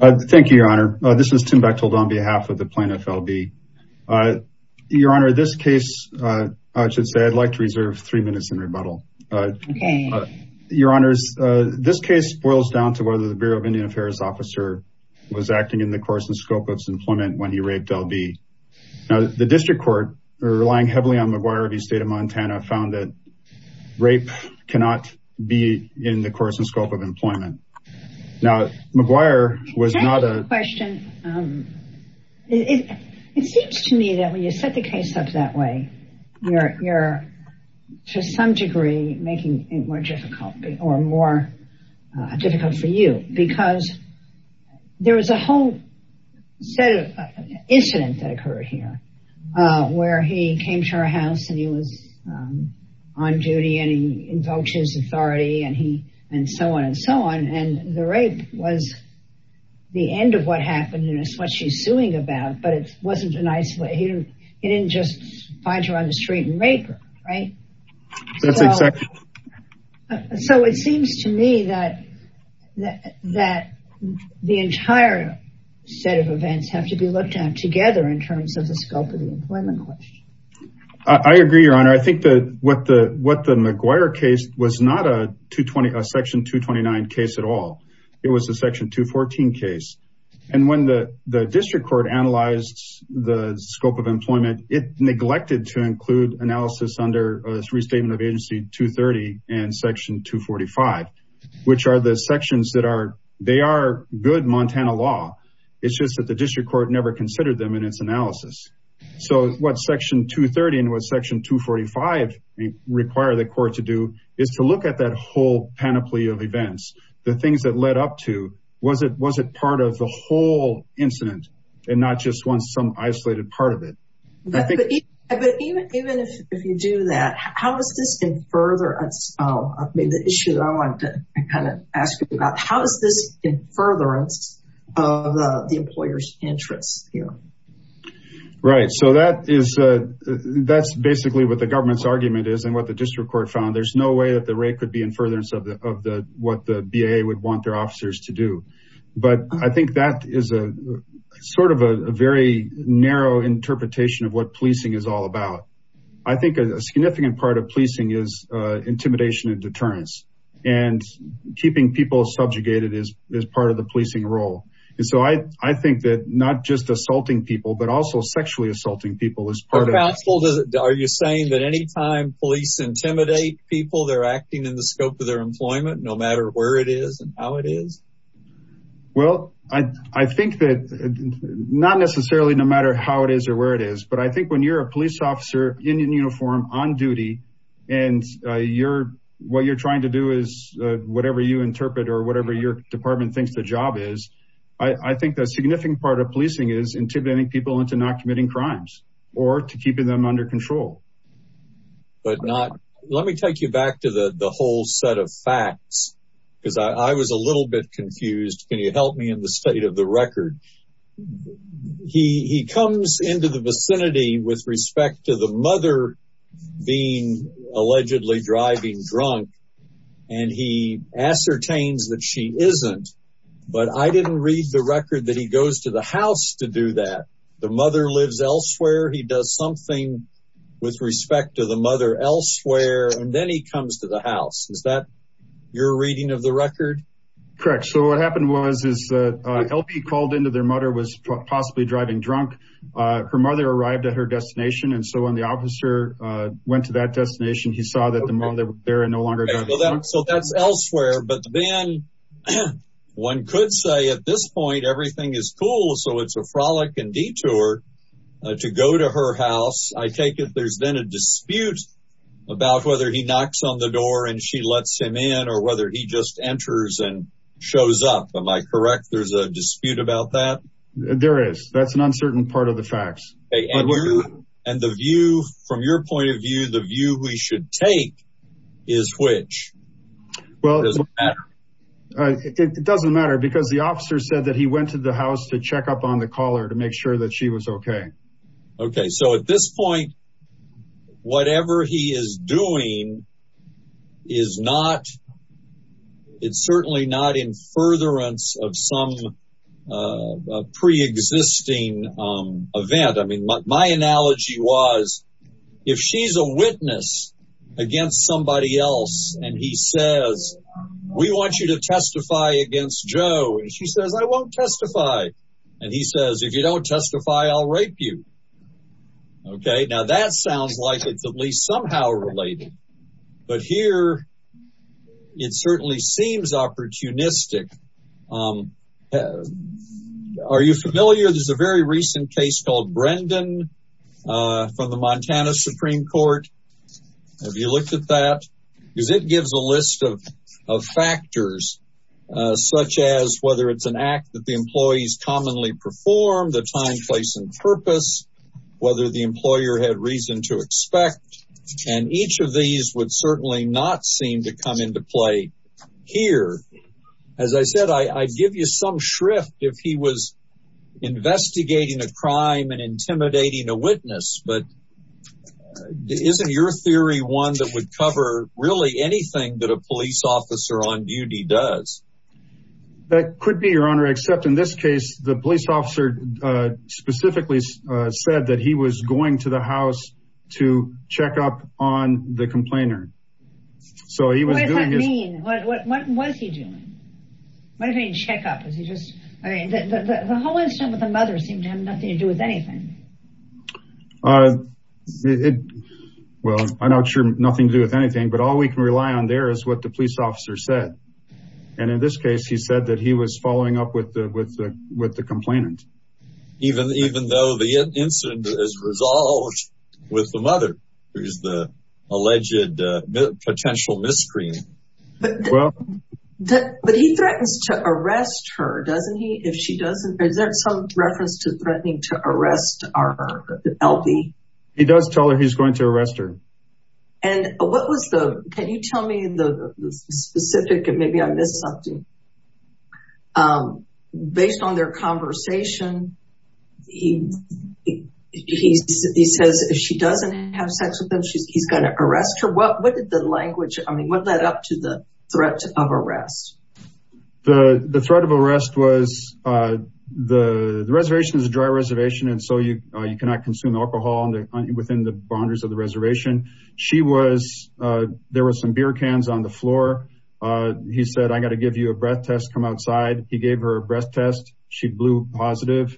Thank you, Your Honor. This is Tim Bechtold on behalf of the Plaintiff, L. B. Your Honor, this case, I should say, I'd like to reserve three minutes in rebuttal. Okay. Your Honors, this case boils down to whether the Bureau of Indian Affairs officer was acting in the course and scope of his employment when he raped L. B. Now, the District Court, relying heavily on Maguire v. State of Montana, found that rape cannot be in the course and scope of employment. Now, Maguire was not a... Can I ask a question? It seems to me that when you set the case up that way, you're to some degree making it more difficult or more difficult for you because there was a whole set of incidents that occurred here where he came to our house and he was on duty and he invokes his authority and so on and so on, and the rape was the end of what happened and it's what she's suing about, but it wasn't an isolated... He didn't just find her on the street and rape her, right? That's exactly... So it seems to me that the entire set of events have to be looked at together in terms of the scope of the employment question. I agree, Your Honor. I think that what the Maguire case was not a Section 229 case at all. It was a Section 214 case, and when the District Court analyzed the scope of employment, it neglected to include analysis under Restatement of Agency 230 and Section 245, which are the sections that are... They are good Montana law. It's just that the District Court never considered them in its analysis. So what Section 230 and what Section 245 require the court to do is to look at that whole panoply of events, the things that led up to, was it part of the whole incident and not just some isolated part of it? But even if you do that, how does this further... I mean, the issue that I wanted to kind of ask you about, how is this in furtherance of the employer's interests here? Right. So that's basically what the government's argument is and what the District Court found. There's no way that the rate could be in furtherance of what the BAA would want their officers to do. But I think that is sort of a very narrow interpretation of what policing is all about. I think a significant part of policing is intimidation and deterrence, and keeping people subjugated is part of the policing role. And so I think that not just assaulting people, but also sexually assaulting people is part of... Are you saying that anytime police intimidate people, they're acting in the scope of their employment, no matter where it is and how it is? Well, I think that not necessarily no matter how it is or where it is, but I think when you're a police officer in uniform on duty and what you're trying to do is whatever you interpret or whatever your department thinks the job is, I think a significant part of policing is intimidating people into not committing crimes or to keeping them under control. But not... Let me take you back to the whole set of facts because I was a little bit confused. Can you help me in the state of the record? He comes into the vicinity with respect to the mother being allegedly driving drunk, and he ascertains that she isn't, but I didn't read the record that he goes to the house to do that. The mother lives elsewhere. He does something with respect to the mother elsewhere, and then he comes to the house. Is that your reading of the record? Correct. So what happened was is LB called into their mother was possibly driving drunk. Her mother arrived at her destination, and so when the officer went to that destination, he saw that the mother there no longer drives drunk. So that's elsewhere. But then one could say at this point everything is cool, so it's a frolic and detour to go to her house. I take it there's then a dispute about whether he knocks on the door and she lets him in or whether he just enters and shows up. Am I correct? There's a dispute about that? There is. That's an uncertain part of the facts. And the view, from your point of view, the view we should take is which? It doesn't matter. It doesn't matter because the officer said that he went to the house to check up on the caller to make sure that she was okay. Okay, so at this point, whatever he is doing is not – it's certainly not in furtherance of some preexisting event. I mean, my analogy was if she's a witness against somebody else and he says, we want you to testify against Joe, and she says, I won't testify. And he says, if you don't testify, I'll rape you. Okay, now that sounds like it's at least somehow related. But here it certainly seems opportunistic. Are you familiar? There's a very recent case called Brendan from the Montana Supreme Court. Have you looked at that? Because it gives a list of factors, such as whether it's an act that the employees commonly perform, the time, place, and purpose, whether the employer had reason to expect. And each of these would certainly not seem to come into play here. As I said, I'd give you some shrift if he was investigating a crime and intimidating a witness. But isn't your theory one that would cover really anything that a police officer on duty does? That could be, Your Honor, except in this case, the police officer specifically said that he was going to the house to check up on the complainer. What does that mean? What was he doing? What do you mean check up? The whole incident with the mother seemed to have nothing to do with anything. Well, I'm not sure nothing to do with anything, but all we can rely on there is what the police officer said. And in this case, he said that he was following up with the complainant. Even though the incident is resolved with the mother, who is the alleged potential miscreant. But he threatens to arrest her, doesn't he, if she doesn't? Is there some reference to threatening to arrest our L.B.? He does tell her he's going to arrest her. And what was the, can you tell me the specific, and maybe I missed something. Based on their conversation, he says if she doesn't have sex with him, he's going to arrest her. What did the language, I mean, what led up to the threat of arrest? The threat of arrest was the reservation is a dry reservation. And so you cannot consume alcohol within the boundaries of the reservation. She was, there were some beer cans on the floor. He said, I got to give you a breath test, come outside. He gave her a breath test. She blew positive,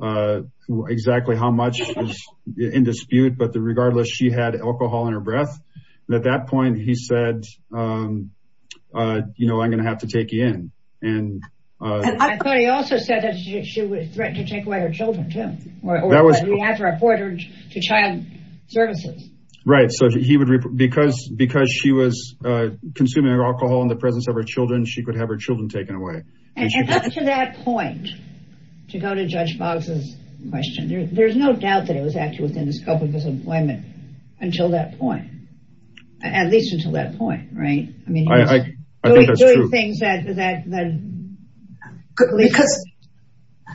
exactly how much was in dispute. But regardless, she had alcohol in her breath. And at that point he said, you know, I'm going to have to take you in. I thought he also said that she was threatened to take away her children too. Or that we have to report her to child services. Right, so he would, because she was consuming alcohol in the presence of her children, she could have her children taken away. And up to that point, to go to Judge Boggs' question, there's no doubt that it was actually within the scope of his employment until that point. At least until that point, right? I mean, he was doing things that... Because,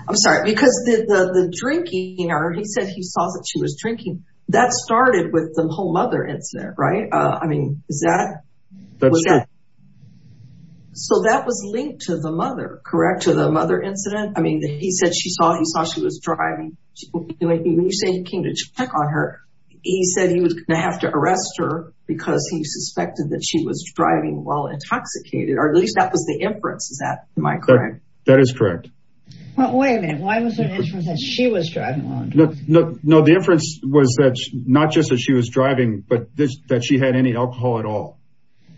I'm sorry, because the drinking, or he said he saw that she was drinking, that started with the whole mother incident, right? I mean, is that... So that was linked to the mother, correct? To the mother incident? I mean, he said he saw she was driving. When you say he came to check on her, he said he was going to have to arrest her because he suspected that she was driving while intoxicated, or at least that was the inference. Is that, am I correct? That is correct. Well, wait a minute. Why was there an inference that she was driving while intoxicated? No, the inference was that not just that she was driving, but that she had any alcohol at all.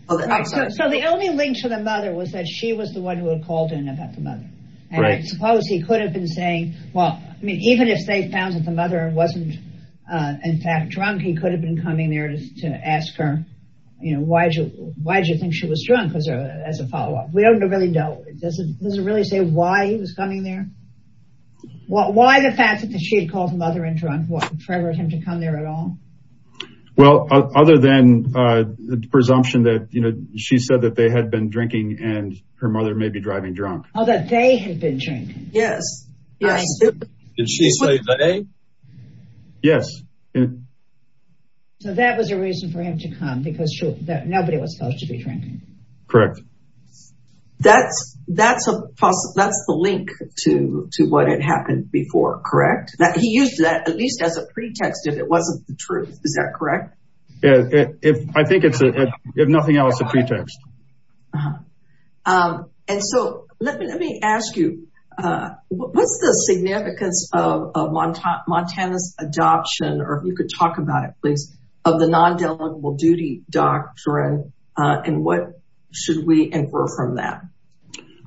So the only link to the mother was that she was the one who had called in about the mother. Right. And I suppose he could have been saying, well, I mean, even if they found that the mother wasn't, in fact, drunk, he could have been coming there to ask her, you know, why did you think she was drunk as a follow-up. We don't really know. Does it really say why he was coming there? Why the fact that she had called the mother in drunk? What, for him to come there at all? Well, other than the presumption that, you know, she said that they had been drinking and her mother may be driving drunk. Oh, that they had been drinking. Yes. Did she say they? Yes. So that was a reason for him to come because nobody was supposed to be drinking. Correct. That's the link to what had happened before, correct? He used that at least as a pretext, if it wasn't the truth. Is that correct? Yeah. If I think it's a, if nothing else, a pretext. And so let me, let me ask you, what's the significance of Montana's adoption, or if you could talk about it, please, of the non-deliverable duty doctrine. And what should we infer from that?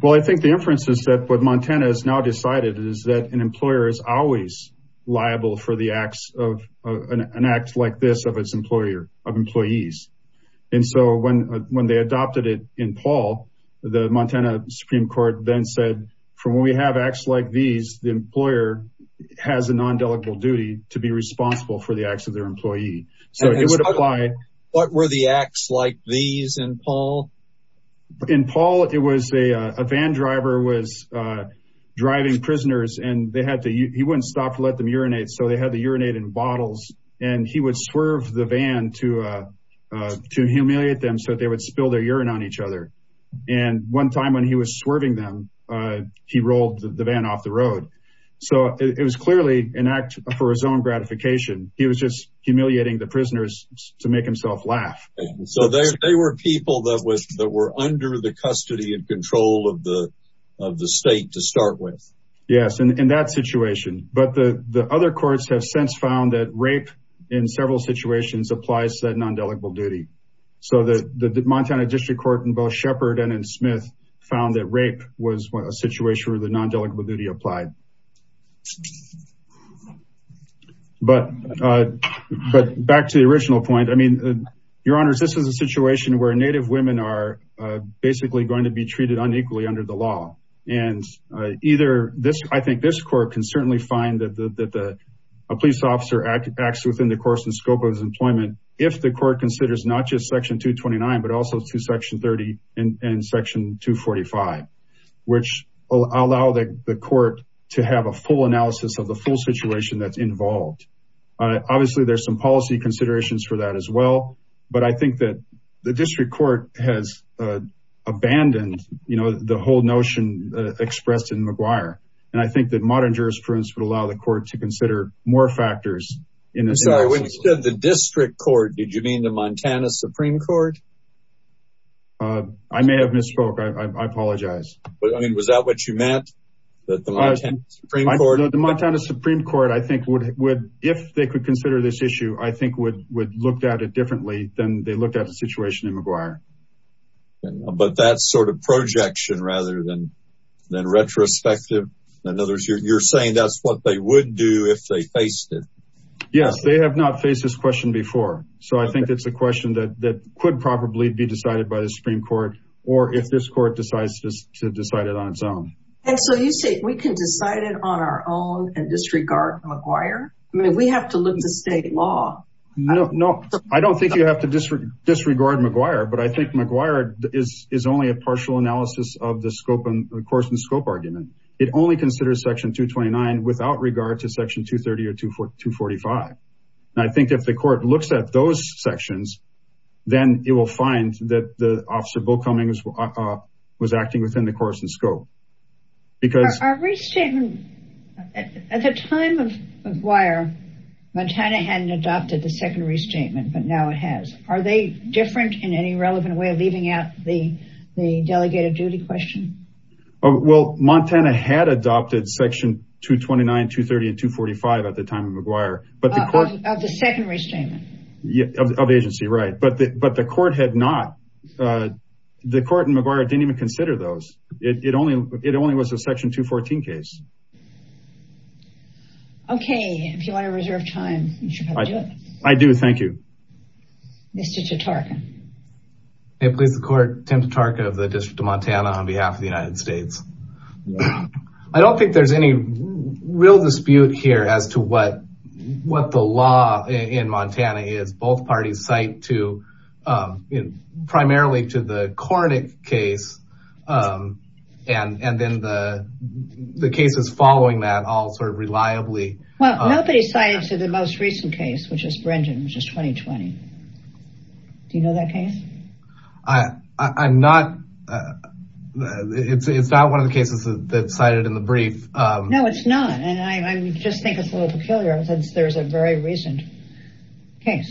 Well, I think the inference is that what Montana has now decided is that an employee is liable for the acts of an act like this of its employer of employees. And so when, when they adopted it in Paul, the Montana Supreme court then said, from when we have acts like these, the employer has a non-deliverable duty to be responsible for the acts of their employee. So it would apply. What were the acts like these in Paul? In Paul, it was a, a van driver was driving prisoners and they had to, he wouldn't stop to let them urinate. So they had to urinate in bottles and he would swerve the van to, to humiliate them so that they would spill their urine on each other. And one time when he was swerving them, he rolled the van off the road. So it was clearly an act for his own gratification. He was just humiliating the prisoners to make himself laugh. So they were people that was, that were under the custody and control of the, of the state to start with. Yes. And in that situation, but the, the other courts have since found that rape in several situations applies to that non-deliverable duty. So the Montana district court in both Shepard and in Smith found that rape was a situation where the non-deliverable duty applied. But, but back to the original point, I mean, your honors, I think that this court can certainly find that the, that the police officer acts within the course and scope of his employment. If the court considers not just section two 29, but also to section 30 and section two 45, which I'll allow the court to have a full analysis of the full situation that's involved. Obviously there's some policy considerations for that as well, but I think that the district court has abandoned, you know, the whole notion expressed in McGuire. And I think that modern jurisprudence would allow the court to consider more factors in the district court. Did you mean the Montana Supreme court? I may have misspoke. I apologize. I mean, was that what you meant that the Montana Supreme court, the Montana Supreme court, I think would, would, if they could consider this issue, I think would, would looked at it differently than they looked at the situation in McGuire. But that's sort of projection rather than, than retrospective. In other words, you're saying that's what they would do if they faced it. Yes, they have not faced this question before. So I think that's a question that, that could probably be decided by the Supreme court or if this court decides to decide it on its own. And so you say we can decide it on our own and disregard McGuire. I mean, we have to live the state law. No, no, I don't think you have to disregard McGuire, but I think McGuire is, is only a partial analysis of the scope and the course and scope argument. It only considers section two 29 without regard to section two 30 or two, four, two 45. And I think if the court looks at those sections, then it will find that the officer Bill Cummings was acting within the course and scope. Our restatement at the time of McGuire, Montana hadn't adopted the secondary statement, but now it has, are they different in any relevant way of leaving out the, the delegated duty question? Well, Montana had adopted section two 29, two 30 and two 45 at the time of McGuire, but the court. Of the secondary statement. Yeah. Of the agency. Right. But the, but the court had not, the court and McGuire didn't even consider those. It only, it only was a section two 14 case. Okay. If you want to reserve time. I do. Thank you. Mr. Hey, please. The court. Tim to target of the district of Montana on behalf of the United States. I don't think there's any real dispute here as to what, what the law in Montana is. Both parties cite to. Primarily to the corny case. And, and then the, the cases following that all sort of reliably. Well, Do you know that case? I, I'm not. It's, it's not one of the cases that cited in the brief. No, it's not. And I just think it's a little peculiar since there's a very recent. Okay.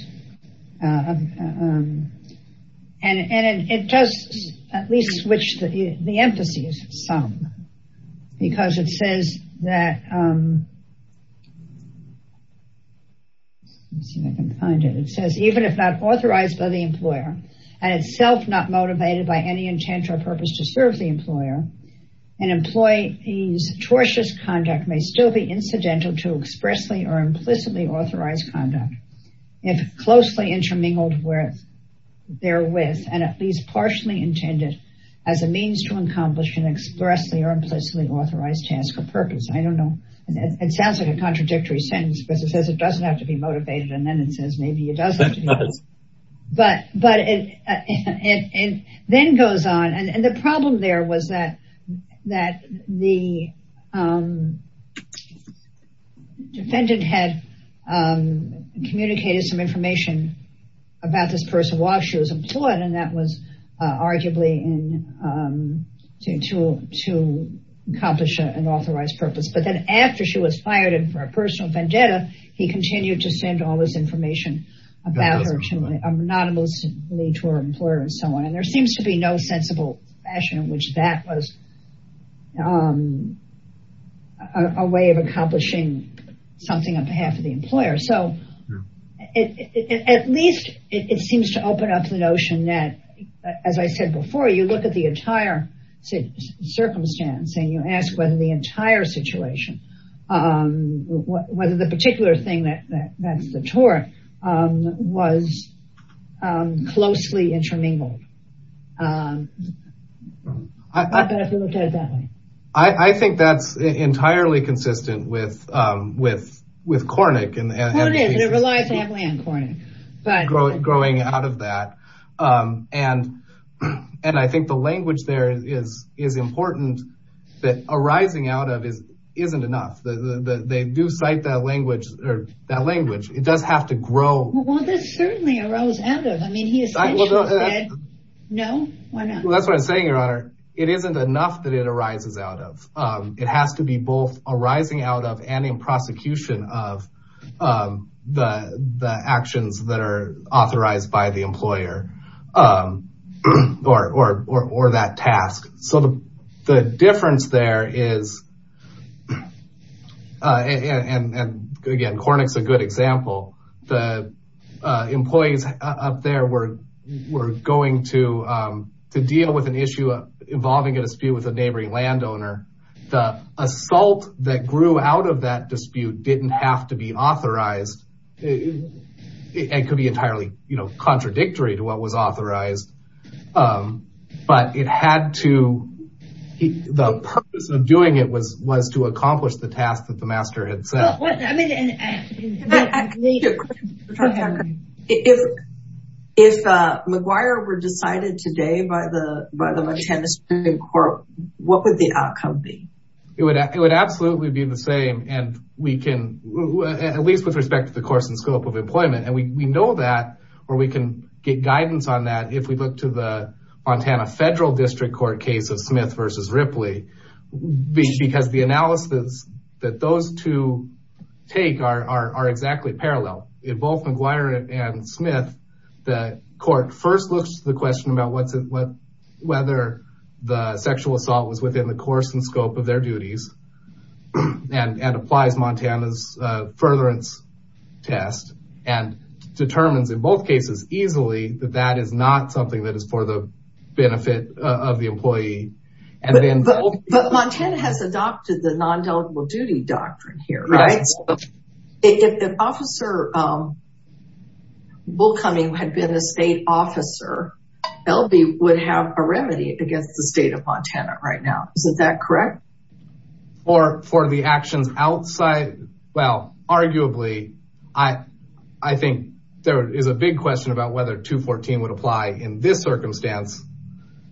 And, and it does at least switch the, the emphasis. Because it says that. Let's see if I can find it. It says, even if not authorized by the employer. And it's self not motivated by any intent or purpose to serve the employer. And employee. He's tortuous conduct may still be incidental to expressly or implicitly authorized conduct. If closely intermingled with. There with, and at least partially intended. As a means to accomplish an expressly or implicitly authorized task or purpose. I don't know. It sounds like a contradictory sentence because it says it doesn't have to be motivated. And then it says, maybe it doesn't. But, but. And then goes on. And the problem there was that. That the. Defendant had. Communicated some information. About this person while she was employed. And that was arguably in. To, to. Accomplish an authorized purpose. But then after she was fired and for a personal vendetta. He continued to send all this information. About her. I'm not. To her employer and so on. And there seems to be no sensible. Fashion, which that was. A way of accomplishing. Something on behalf of the employer. So. At least. It seems to open up the notion that. As I said before, you look at the entire. Circumstance and you ask whether the entire situation. Whether the particular thing that. That's the tour. Was. Closely intermingled. I. I think that's entirely consistent with. With. With Cornick. And it relies heavily on Cornick. But growing out of that. And. And I think the language there is, is important. That arising out of is, isn't enough. They do cite that language or that language. It does have to grow. Well, there's certainly a rose out of. I mean, he is. No. Well, that's what I'm saying. Your honor. It isn't enough that it arises out of. It has to be both arising out of. And in prosecution of. The, the actions that are authorized by the employer. Or, or, or, or that task. So the. The difference there is. And again, Cornick's a good example. The. Employees up there were. We're going to. To deal with an issue. Involving a dispute with a neighboring landowner. The assault that grew out of that dispute. Didn't have to be authorized. It could be entirely contradictory to what was authorized. But it had to. The purpose of doing it was, was to accomplish the task that the master had said. If. If McGuire were decided today by the. What would the outcome be? It would, it would absolutely be the same. And we can. At least with respect to the course and scope of employment. And we, we know that. Or we can get guidance on that. If we look to the. Montana federal district court case of Smith versus Ripley. Because the analysis. That those two. Take are, are, are exactly parallel. In both McGuire and Smith. The court first looks to the question about what's it. Whether the sexual assault was within the course and scope of their duties. And, and applies Montana's furtherance. Test. And determines in both cases easily that that is not something that is for the. Benefit of the employee. And then. But Montana has adopted the non-deligible duty doctrine here. Right. If an officer. Will coming had been a state officer. LB would have a remedy against the state of Montana right now. Is that correct? Or for the actions outside. Well, arguably. I, I think. There is a big question about whether two 14 would apply in this circumstance.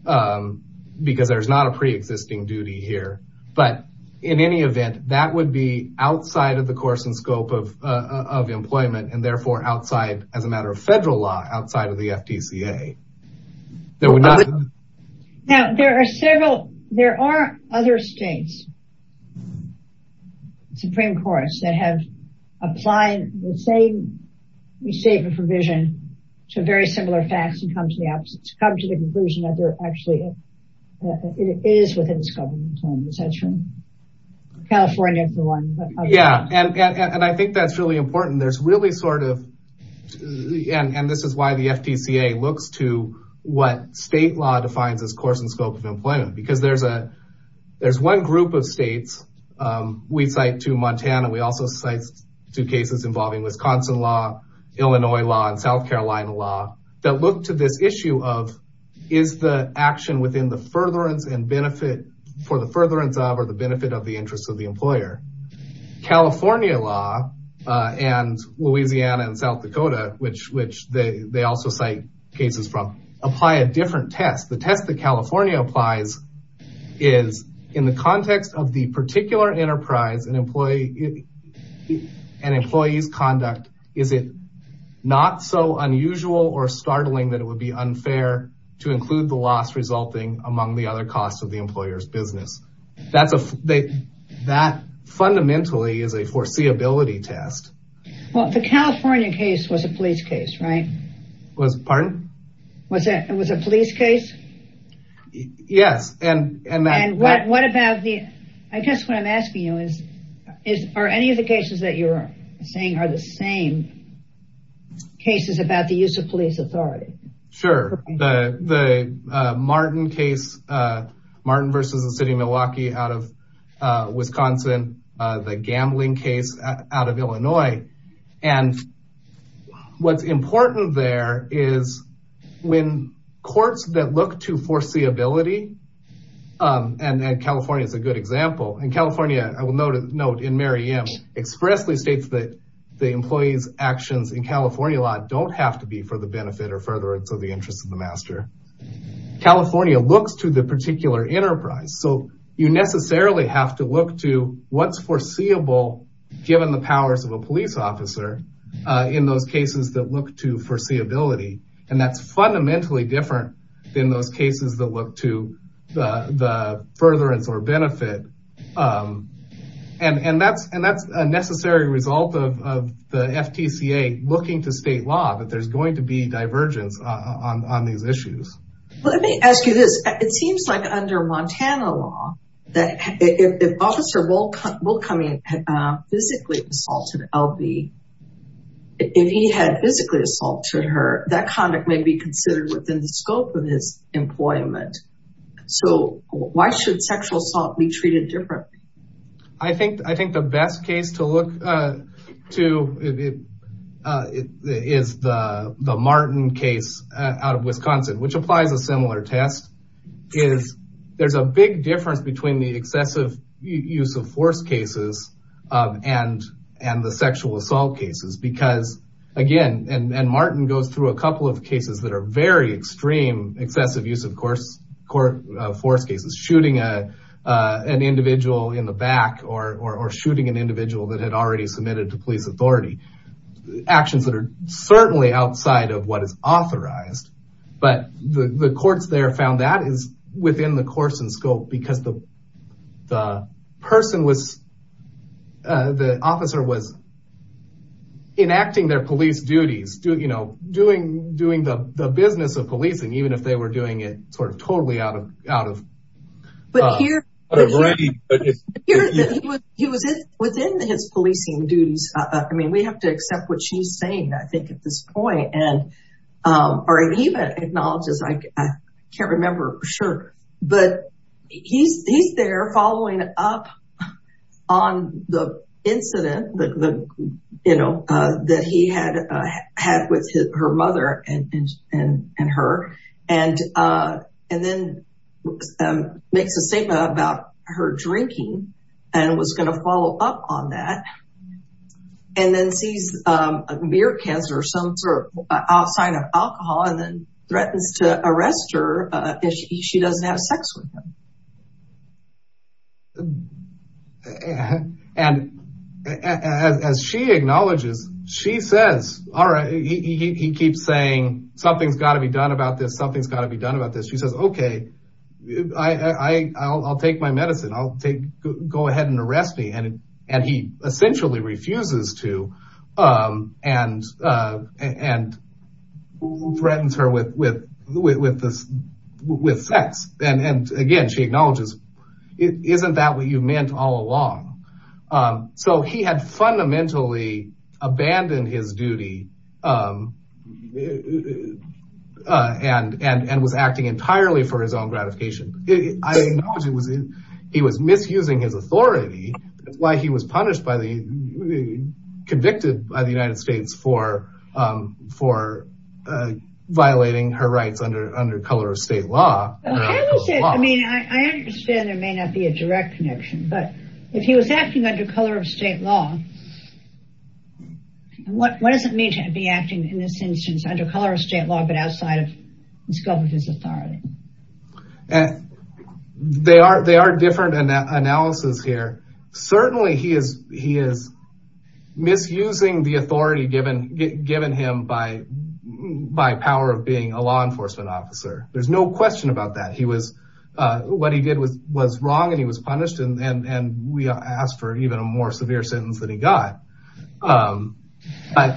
Because there's not a preexisting duty here. But in any event, that would be outside of the course and scope of. Of employment and therefore outside as a matter of federal law. Outside of the FTCA. Now, there are several. There are other states. Supreme courts that have. Applying the same. We save a provision. To very similar facts and come to the absence. Come to the conclusion that they're actually. It is within this government. California. Yeah. And I think that's really important. There's really sort of. And this is why the FTCA looks to. What state law defines as course and scope of employment. Because there's a. There's one group of states. We cite to Montana. We also cite. Two cases involving Wisconsin law. Illinois law and South Carolina law. That look to this issue of. Is the action within the furtherance and benefit. For the furtherance of, or the benefit of the interest of the employer. California law. And Louisiana and South Dakota, which, which they, they also say. Cases from apply a different test. The test that California applies. Is in the context of the particular enterprise and employee. And employees conduct. Is it. Not so unusual or startling that it would be unfair. To include the loss resulting among the other costs of the employer's business. That's a. That fundamentally is a foreseeability test. Well, the California case was a police case, right? Was pardon. Was it, it was a police case. Yes. And what, what about the. I guess what I'm asking you is. Is, are any of the cases that you're. Saying are the same. Cases about the use of police authority. Sure. The, the Martin case. The. Martin versus the city of Milwaukee out of. Wisconsin. The gambling case out of Illinois. And. What's important there is when courts that look to foreseeability. And then California is a good example in California. I will know to note in Mary M expressly states that. The employees actions in California lot. Don't have to be for the benefit or furtherance of the interest of the master. California looks to the particular enterprise. So you necessarily have to look to what's foreseeable. Given the powers of a police officer. In those cases that look to foreseeability. And that's fundamentally different. In those cases that look to the, the furtherance or benefit. And, and that's, and that's a necessary result of, of the FTCA looking to state law, that there's going to be divergence on, on, on these issues. Let me ask you this. It seems like under Montana law. That if officer will will come in. Physically assaulted LV. If he had physically assaulted her, that conduct may be considered within the scope of his employment. So why should sexual assault be treated different? I think, I think the best case to look. To. Is the Martin case out of Wisconsin, which applies a similar test. Is there's a big difference between the excessive use of force cases. And, and the sexual assault cases, because again, and Martin goes through a couple of cases that are very extreme, excessive use of course, court force cases, shooting. An individual in the back or, or shooting an individual that had already submitted to police authority. Actions that are certainly outside of what is authorized. But the courts there found that is within the course and scope because the. The person was. The officer was. Enacting their police duties. You know, doing, doing the business of policing, even if they were doing it sort of totally out of, out of. But here. He was within his policing duties. I mean, we have to accept what she's saying. I think at this point and. Or even acknowledges. I can't remember. Sure. But he's, he's there following up. On the incident. You know, that he had, had with her mother and, and, and her. And, and then. Makes a statement about her drinking. And was going to follow up on that. And then sees a beer cans or some sort of sign of alcohol and then threatens to arrest her. If she doesn't have sex with him. And as she acknowledges, she says, all right. He keeps saying something's got to be done about this. Something's got to be done about this. She says, okay. I I'll, I'll take my medicine. I'll take. Go ahead and arrest me. And, and he essentially refuses to. And, and. Who threatens her with, with, with, with this. With sex. And, and again, she acknowledges. Isn't that what you meant all along? So he had fundamentally abandoned his duty. And, and, and was acting entirely for his own gratification. He was misusing his authority. That's why he was punished by the. Convicted by the United States for, for. Violating her rights under, under color of state law. I mean, I understand there may not be a direct connection, but. If he was acting under color of state law. What, what does it mean to be acting in this instance, under color of state law, but outside of. The scope of his authority. And they are, they are different than that analysis here. Certainly he is, he is. Misusing the authority given, given him by. By power of being a law enforcement officer. There's no question about that. He was. What he did was, was wrong and he was punished. And, and, and we asked for even a more severe sentence than he got. But.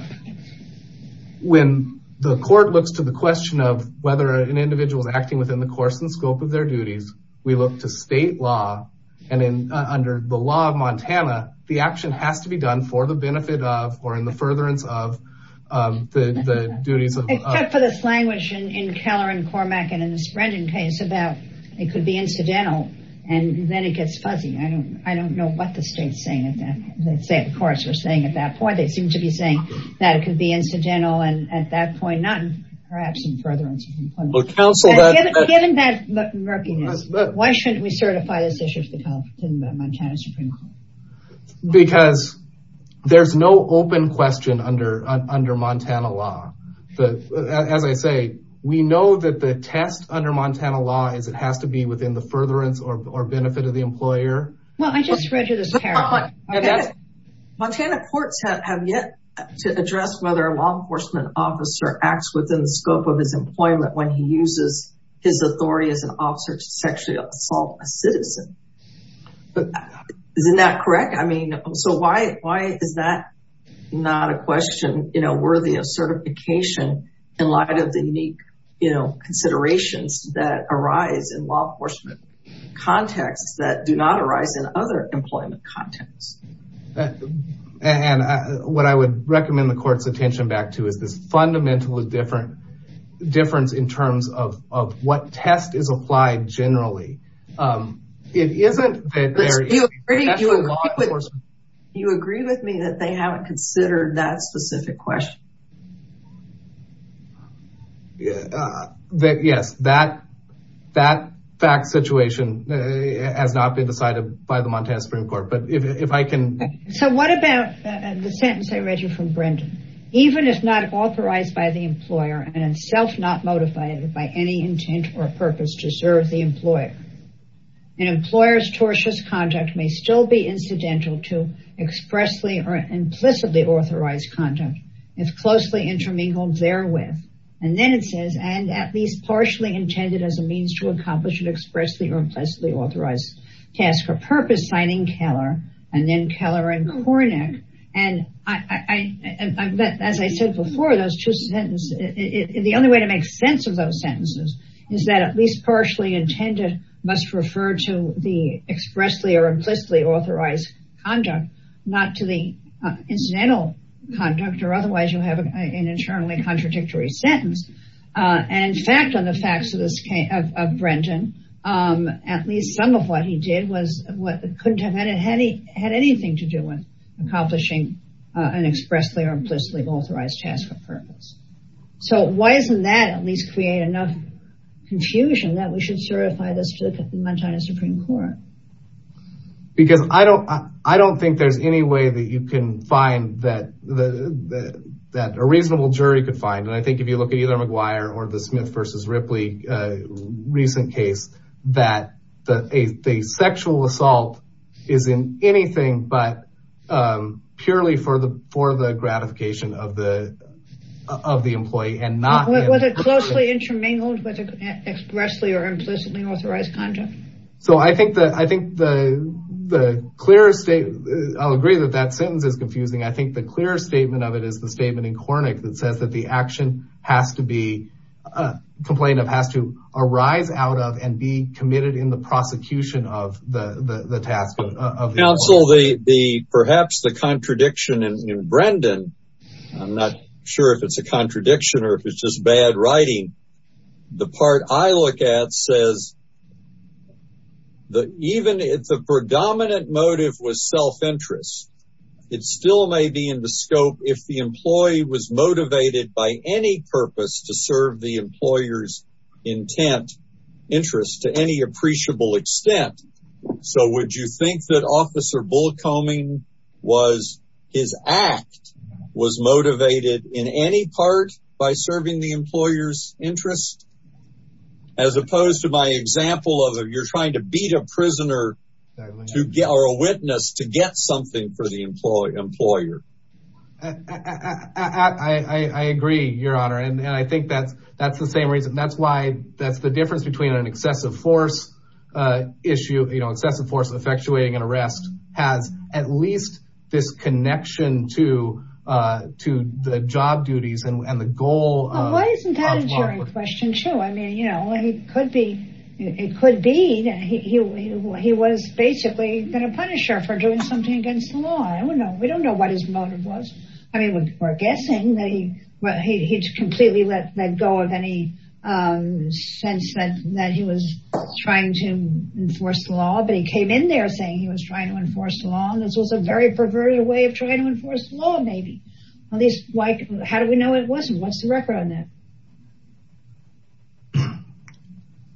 When the court looks to the question of. Whether an individual is acting within the course and scope of their duties. We look to state law. And then under the law of Montana. The action has to be done for the benefit of, or in the furtherance of. The duties. For this language in Keller and Cormack and in the spreading case about. It could be incidental. And then it gets fuzzy. I don't, I don't know what the state's saying. They say, of course, we're saying at that point, they seem to be saying. That it could be incidental. And at that point, not. Perhaps in furtherance. Given that. Why shouldn't we certify this issue? Because. There's no open question under, under Montana law. As I say. We know that the test under Montana law is it has to be within the furtherance or benefit of the employer. Well, I just read you this. Montana courts have yet. To address whether a law enforcement officer acts within the scope of his employment, when he uses. His authority as an officer to sexually assault a citizen. Isn't that correct? I mean. So why, why is that? Not a question, you know, worthy of certification. In light of the unique. You know, considerations that arise in law enforcement. Contexts that do not arise in other employment contents. And. What I would recommend the court's attention back to is this fundamental is different. Difference in terms of, of what test is applied generally. It isn't. You agree with me that they haven't considered that specific question. Yeah. Yes, that. That fact situation. Has not been decided by the Montana Supreme court, but if I can. So what about the sentence? I read you from Brendan. I'm going to read you the sentence. Even if not authorized by the employer and self, not motivated by any intent or purpose to serve the employer. And employers. Torsion's contact may still be incidental to expressly. Or implicitly authorized. If closely intermingled there with. And then it says, and at least partially intended as a means to accomplish it expressly or implicitly authorized. Task or purpose signing Keller. And then Keller and Kornick. And I. As I said before, those two sentences. The only way to make sense of those sentences. Is that at least partially intended. Must refer to the expressly or implicitly authorized. Conduct not to the incidental conduct or otherwise you'll have an internally contradictory sentence. And in fact, on the facts of this. Of Brendan. At least some of what he did was what couldn't have had it. Had he had anything to do with. Accomplishing an expressly or implicitly authorized task or purpose. So why isn't that at least create enough. Confusion that we should certify this to the Montana Supreme court. Because I don't, I don't think there's any way that you can find that the. That a reasonable jury could find. And I think if you look at either McGuire or the Smith versus Ripley. Recent case. That. The sexual assault. Is in anything, but. Purely for the, for the gratification of the. Of the employee and not. Was it closely intermingled with. Expressly or implicitly authorized. Conduct. So I think that, I think the. The clear state. I'll agree that that sentence is confusing. I think the clear statement of it is the statement in cornic that says that the action has to be. Complained of has to arise out of and be committed in the prosecution of the task. The perhaps the contradiction in Brendan. I'm not sure if it's a contradiction or if it's just bad writing. The part I look at says. Even if the predominant motive was self-interest. It still may be in the scope. If the employee was motivated by any purpose to serve the employer's. Intent. Interest to any appreciable extent. So would you think that officer bull combing. Was his act. Was motivated in any part by serving the employer's interest. As opposed to my example of you're trying to beat a prisoner. To get our witness to get something for the employee employer. I agree your honor. And I think that's, that's the same reason. That's why that's the difference between an excessive force. Issue excessive force effectuating an arrest. Has at least this connection to. To the job duties and the goal. I mean, you know, it could be. It could be. He was basically going to punish her for doing something against the law. I don't know. We don't know what his motive was. I mean, we're guessing that he. Completely let go of any sense. That he was trying to enforce the law. But he came in there saying he was trying to enforce the law. And this was a very perverted way of trying to enforce law. Maybe at least. How do we know it wasn't what's the record on that?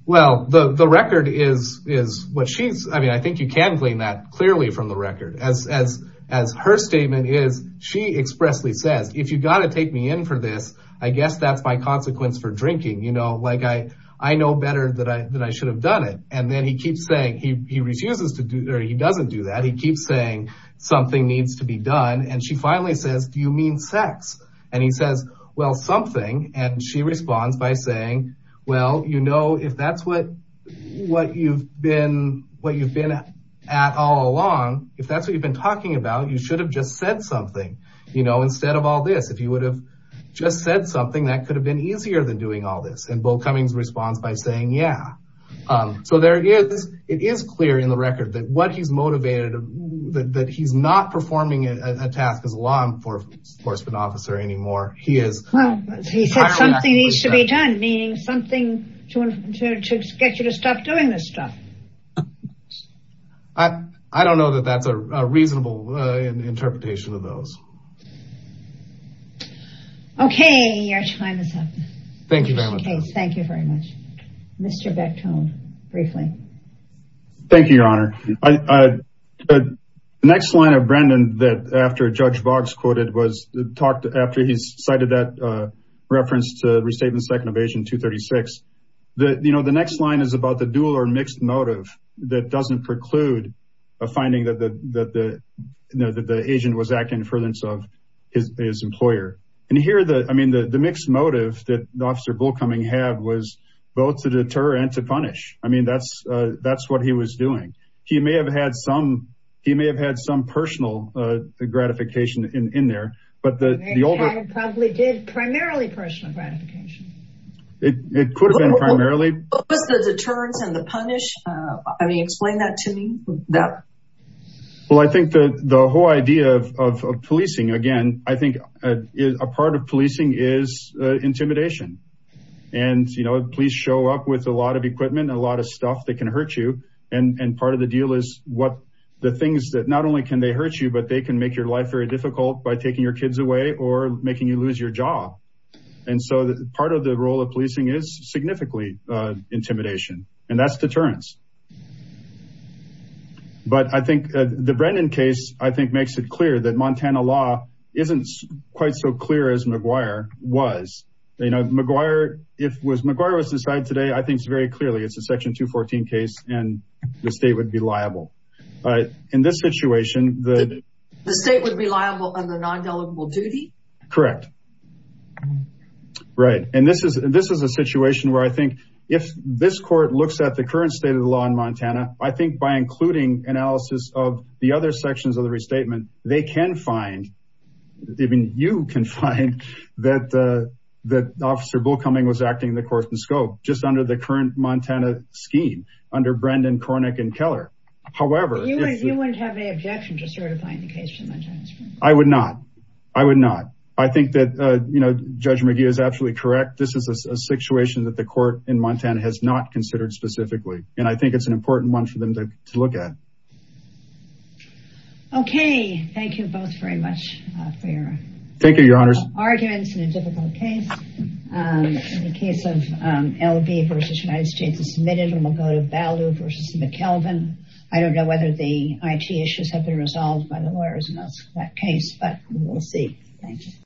Well, the record is, is what she's. I mean, I think you can claim that clearly from the record. As, as, as her statement is. She expressly says. If you got to take me in for this, I guess that's my consequence for drinking. You know, like I, I know better that I, that I should have done it. And then he keeps saying he, he refuses to do, or he doesn't do that. He keeps saying something needs to be done. And she finally says, do you mean sex? And he says, well, something. And she responds by saying, well, you know, if that's what. What you've been, what you've been at all along. If that's what you've been talking about, you should have just said something. You know, instead of all this, if you would have. Just said something that could have been easier than doing all this. And Bill Cummings responds by saying, yeah. So there it is. It is clear in the record that what he's motivated. That he's not performing a task as a law enforcement officer anymore. He is. He said something needs to be done, meaning something. To get you to stop doing this stuff. I, I don't know that that's a reasonable interpretation of those. Okay. Your time is up. Thank you very much. Thank you very much. Beckton. Briefly. Thank you, your honor. The next line of Brendan that after judge Boggs quoted was. Talked after he's cited that. Reference to restatement. Second evasion to 36. The, you know, the next line is about the dual or mixed motive. That doesn't preclude. A finding that the, that the. No, the, the agent was acting in furtherance of. His employer. And here are the, I mean, the, the mixed motive that the officer bull coming had was both to deter and to punish. I mean, that's, that's what he was doing. He may have had some. He may have had some personal gratification in, in there, but the. Probably did primarily personal gratification. It could have been primarily. The deterrence and the punish. I mean, explain that to me. Well, I think that the whole idea of, of, of policing again, I think. A part of policing is intimidation. And, you know, please show up with a lot of equipment, a lot of stuff that can hurt you. And part of the deal is what the things that not only can they hurt you, but they can make your life very difficult by taking your kids away or making you lose your job. And so part of the role of policing is significantly intimidation and that's deterrence. But I think the Brennan case, I think makes it clear that Montana law isn't quite so clear as McGuire was, you know, McGuire. If it was McGuire was decided today, I think it's very clearly, it's a section two 14 case and the state would be liable. All right. In this situation, the. The state would be liable on the non-delegable duty. Correct. Right. And this is, this is a situation where I think if this court looks at the current state of the law in Montana, I think by including analysis of the other sections of the restatement, they can find. Even you can find that the, that officer bull coming was acting the course and scope just under the current Montana scheme under Brendan Kornick and Keller. However, You wouldn't have any objection to certifying the case. I would not, I would not. I think that, you know, judge McGuire is absolutely correct. This is a situation that the court in Montana has not considered specifically. And I think it's an important one for them to look at. Okay. Thank you both very much for your. Thank you. Your honors. Arguments in a difficult case. In the case of LV versus United States is submitted and we'll go to value versus McKelvin. I don't know whether the IT issues have been resolved by the lawyers in that case, but we'll see. Thank you.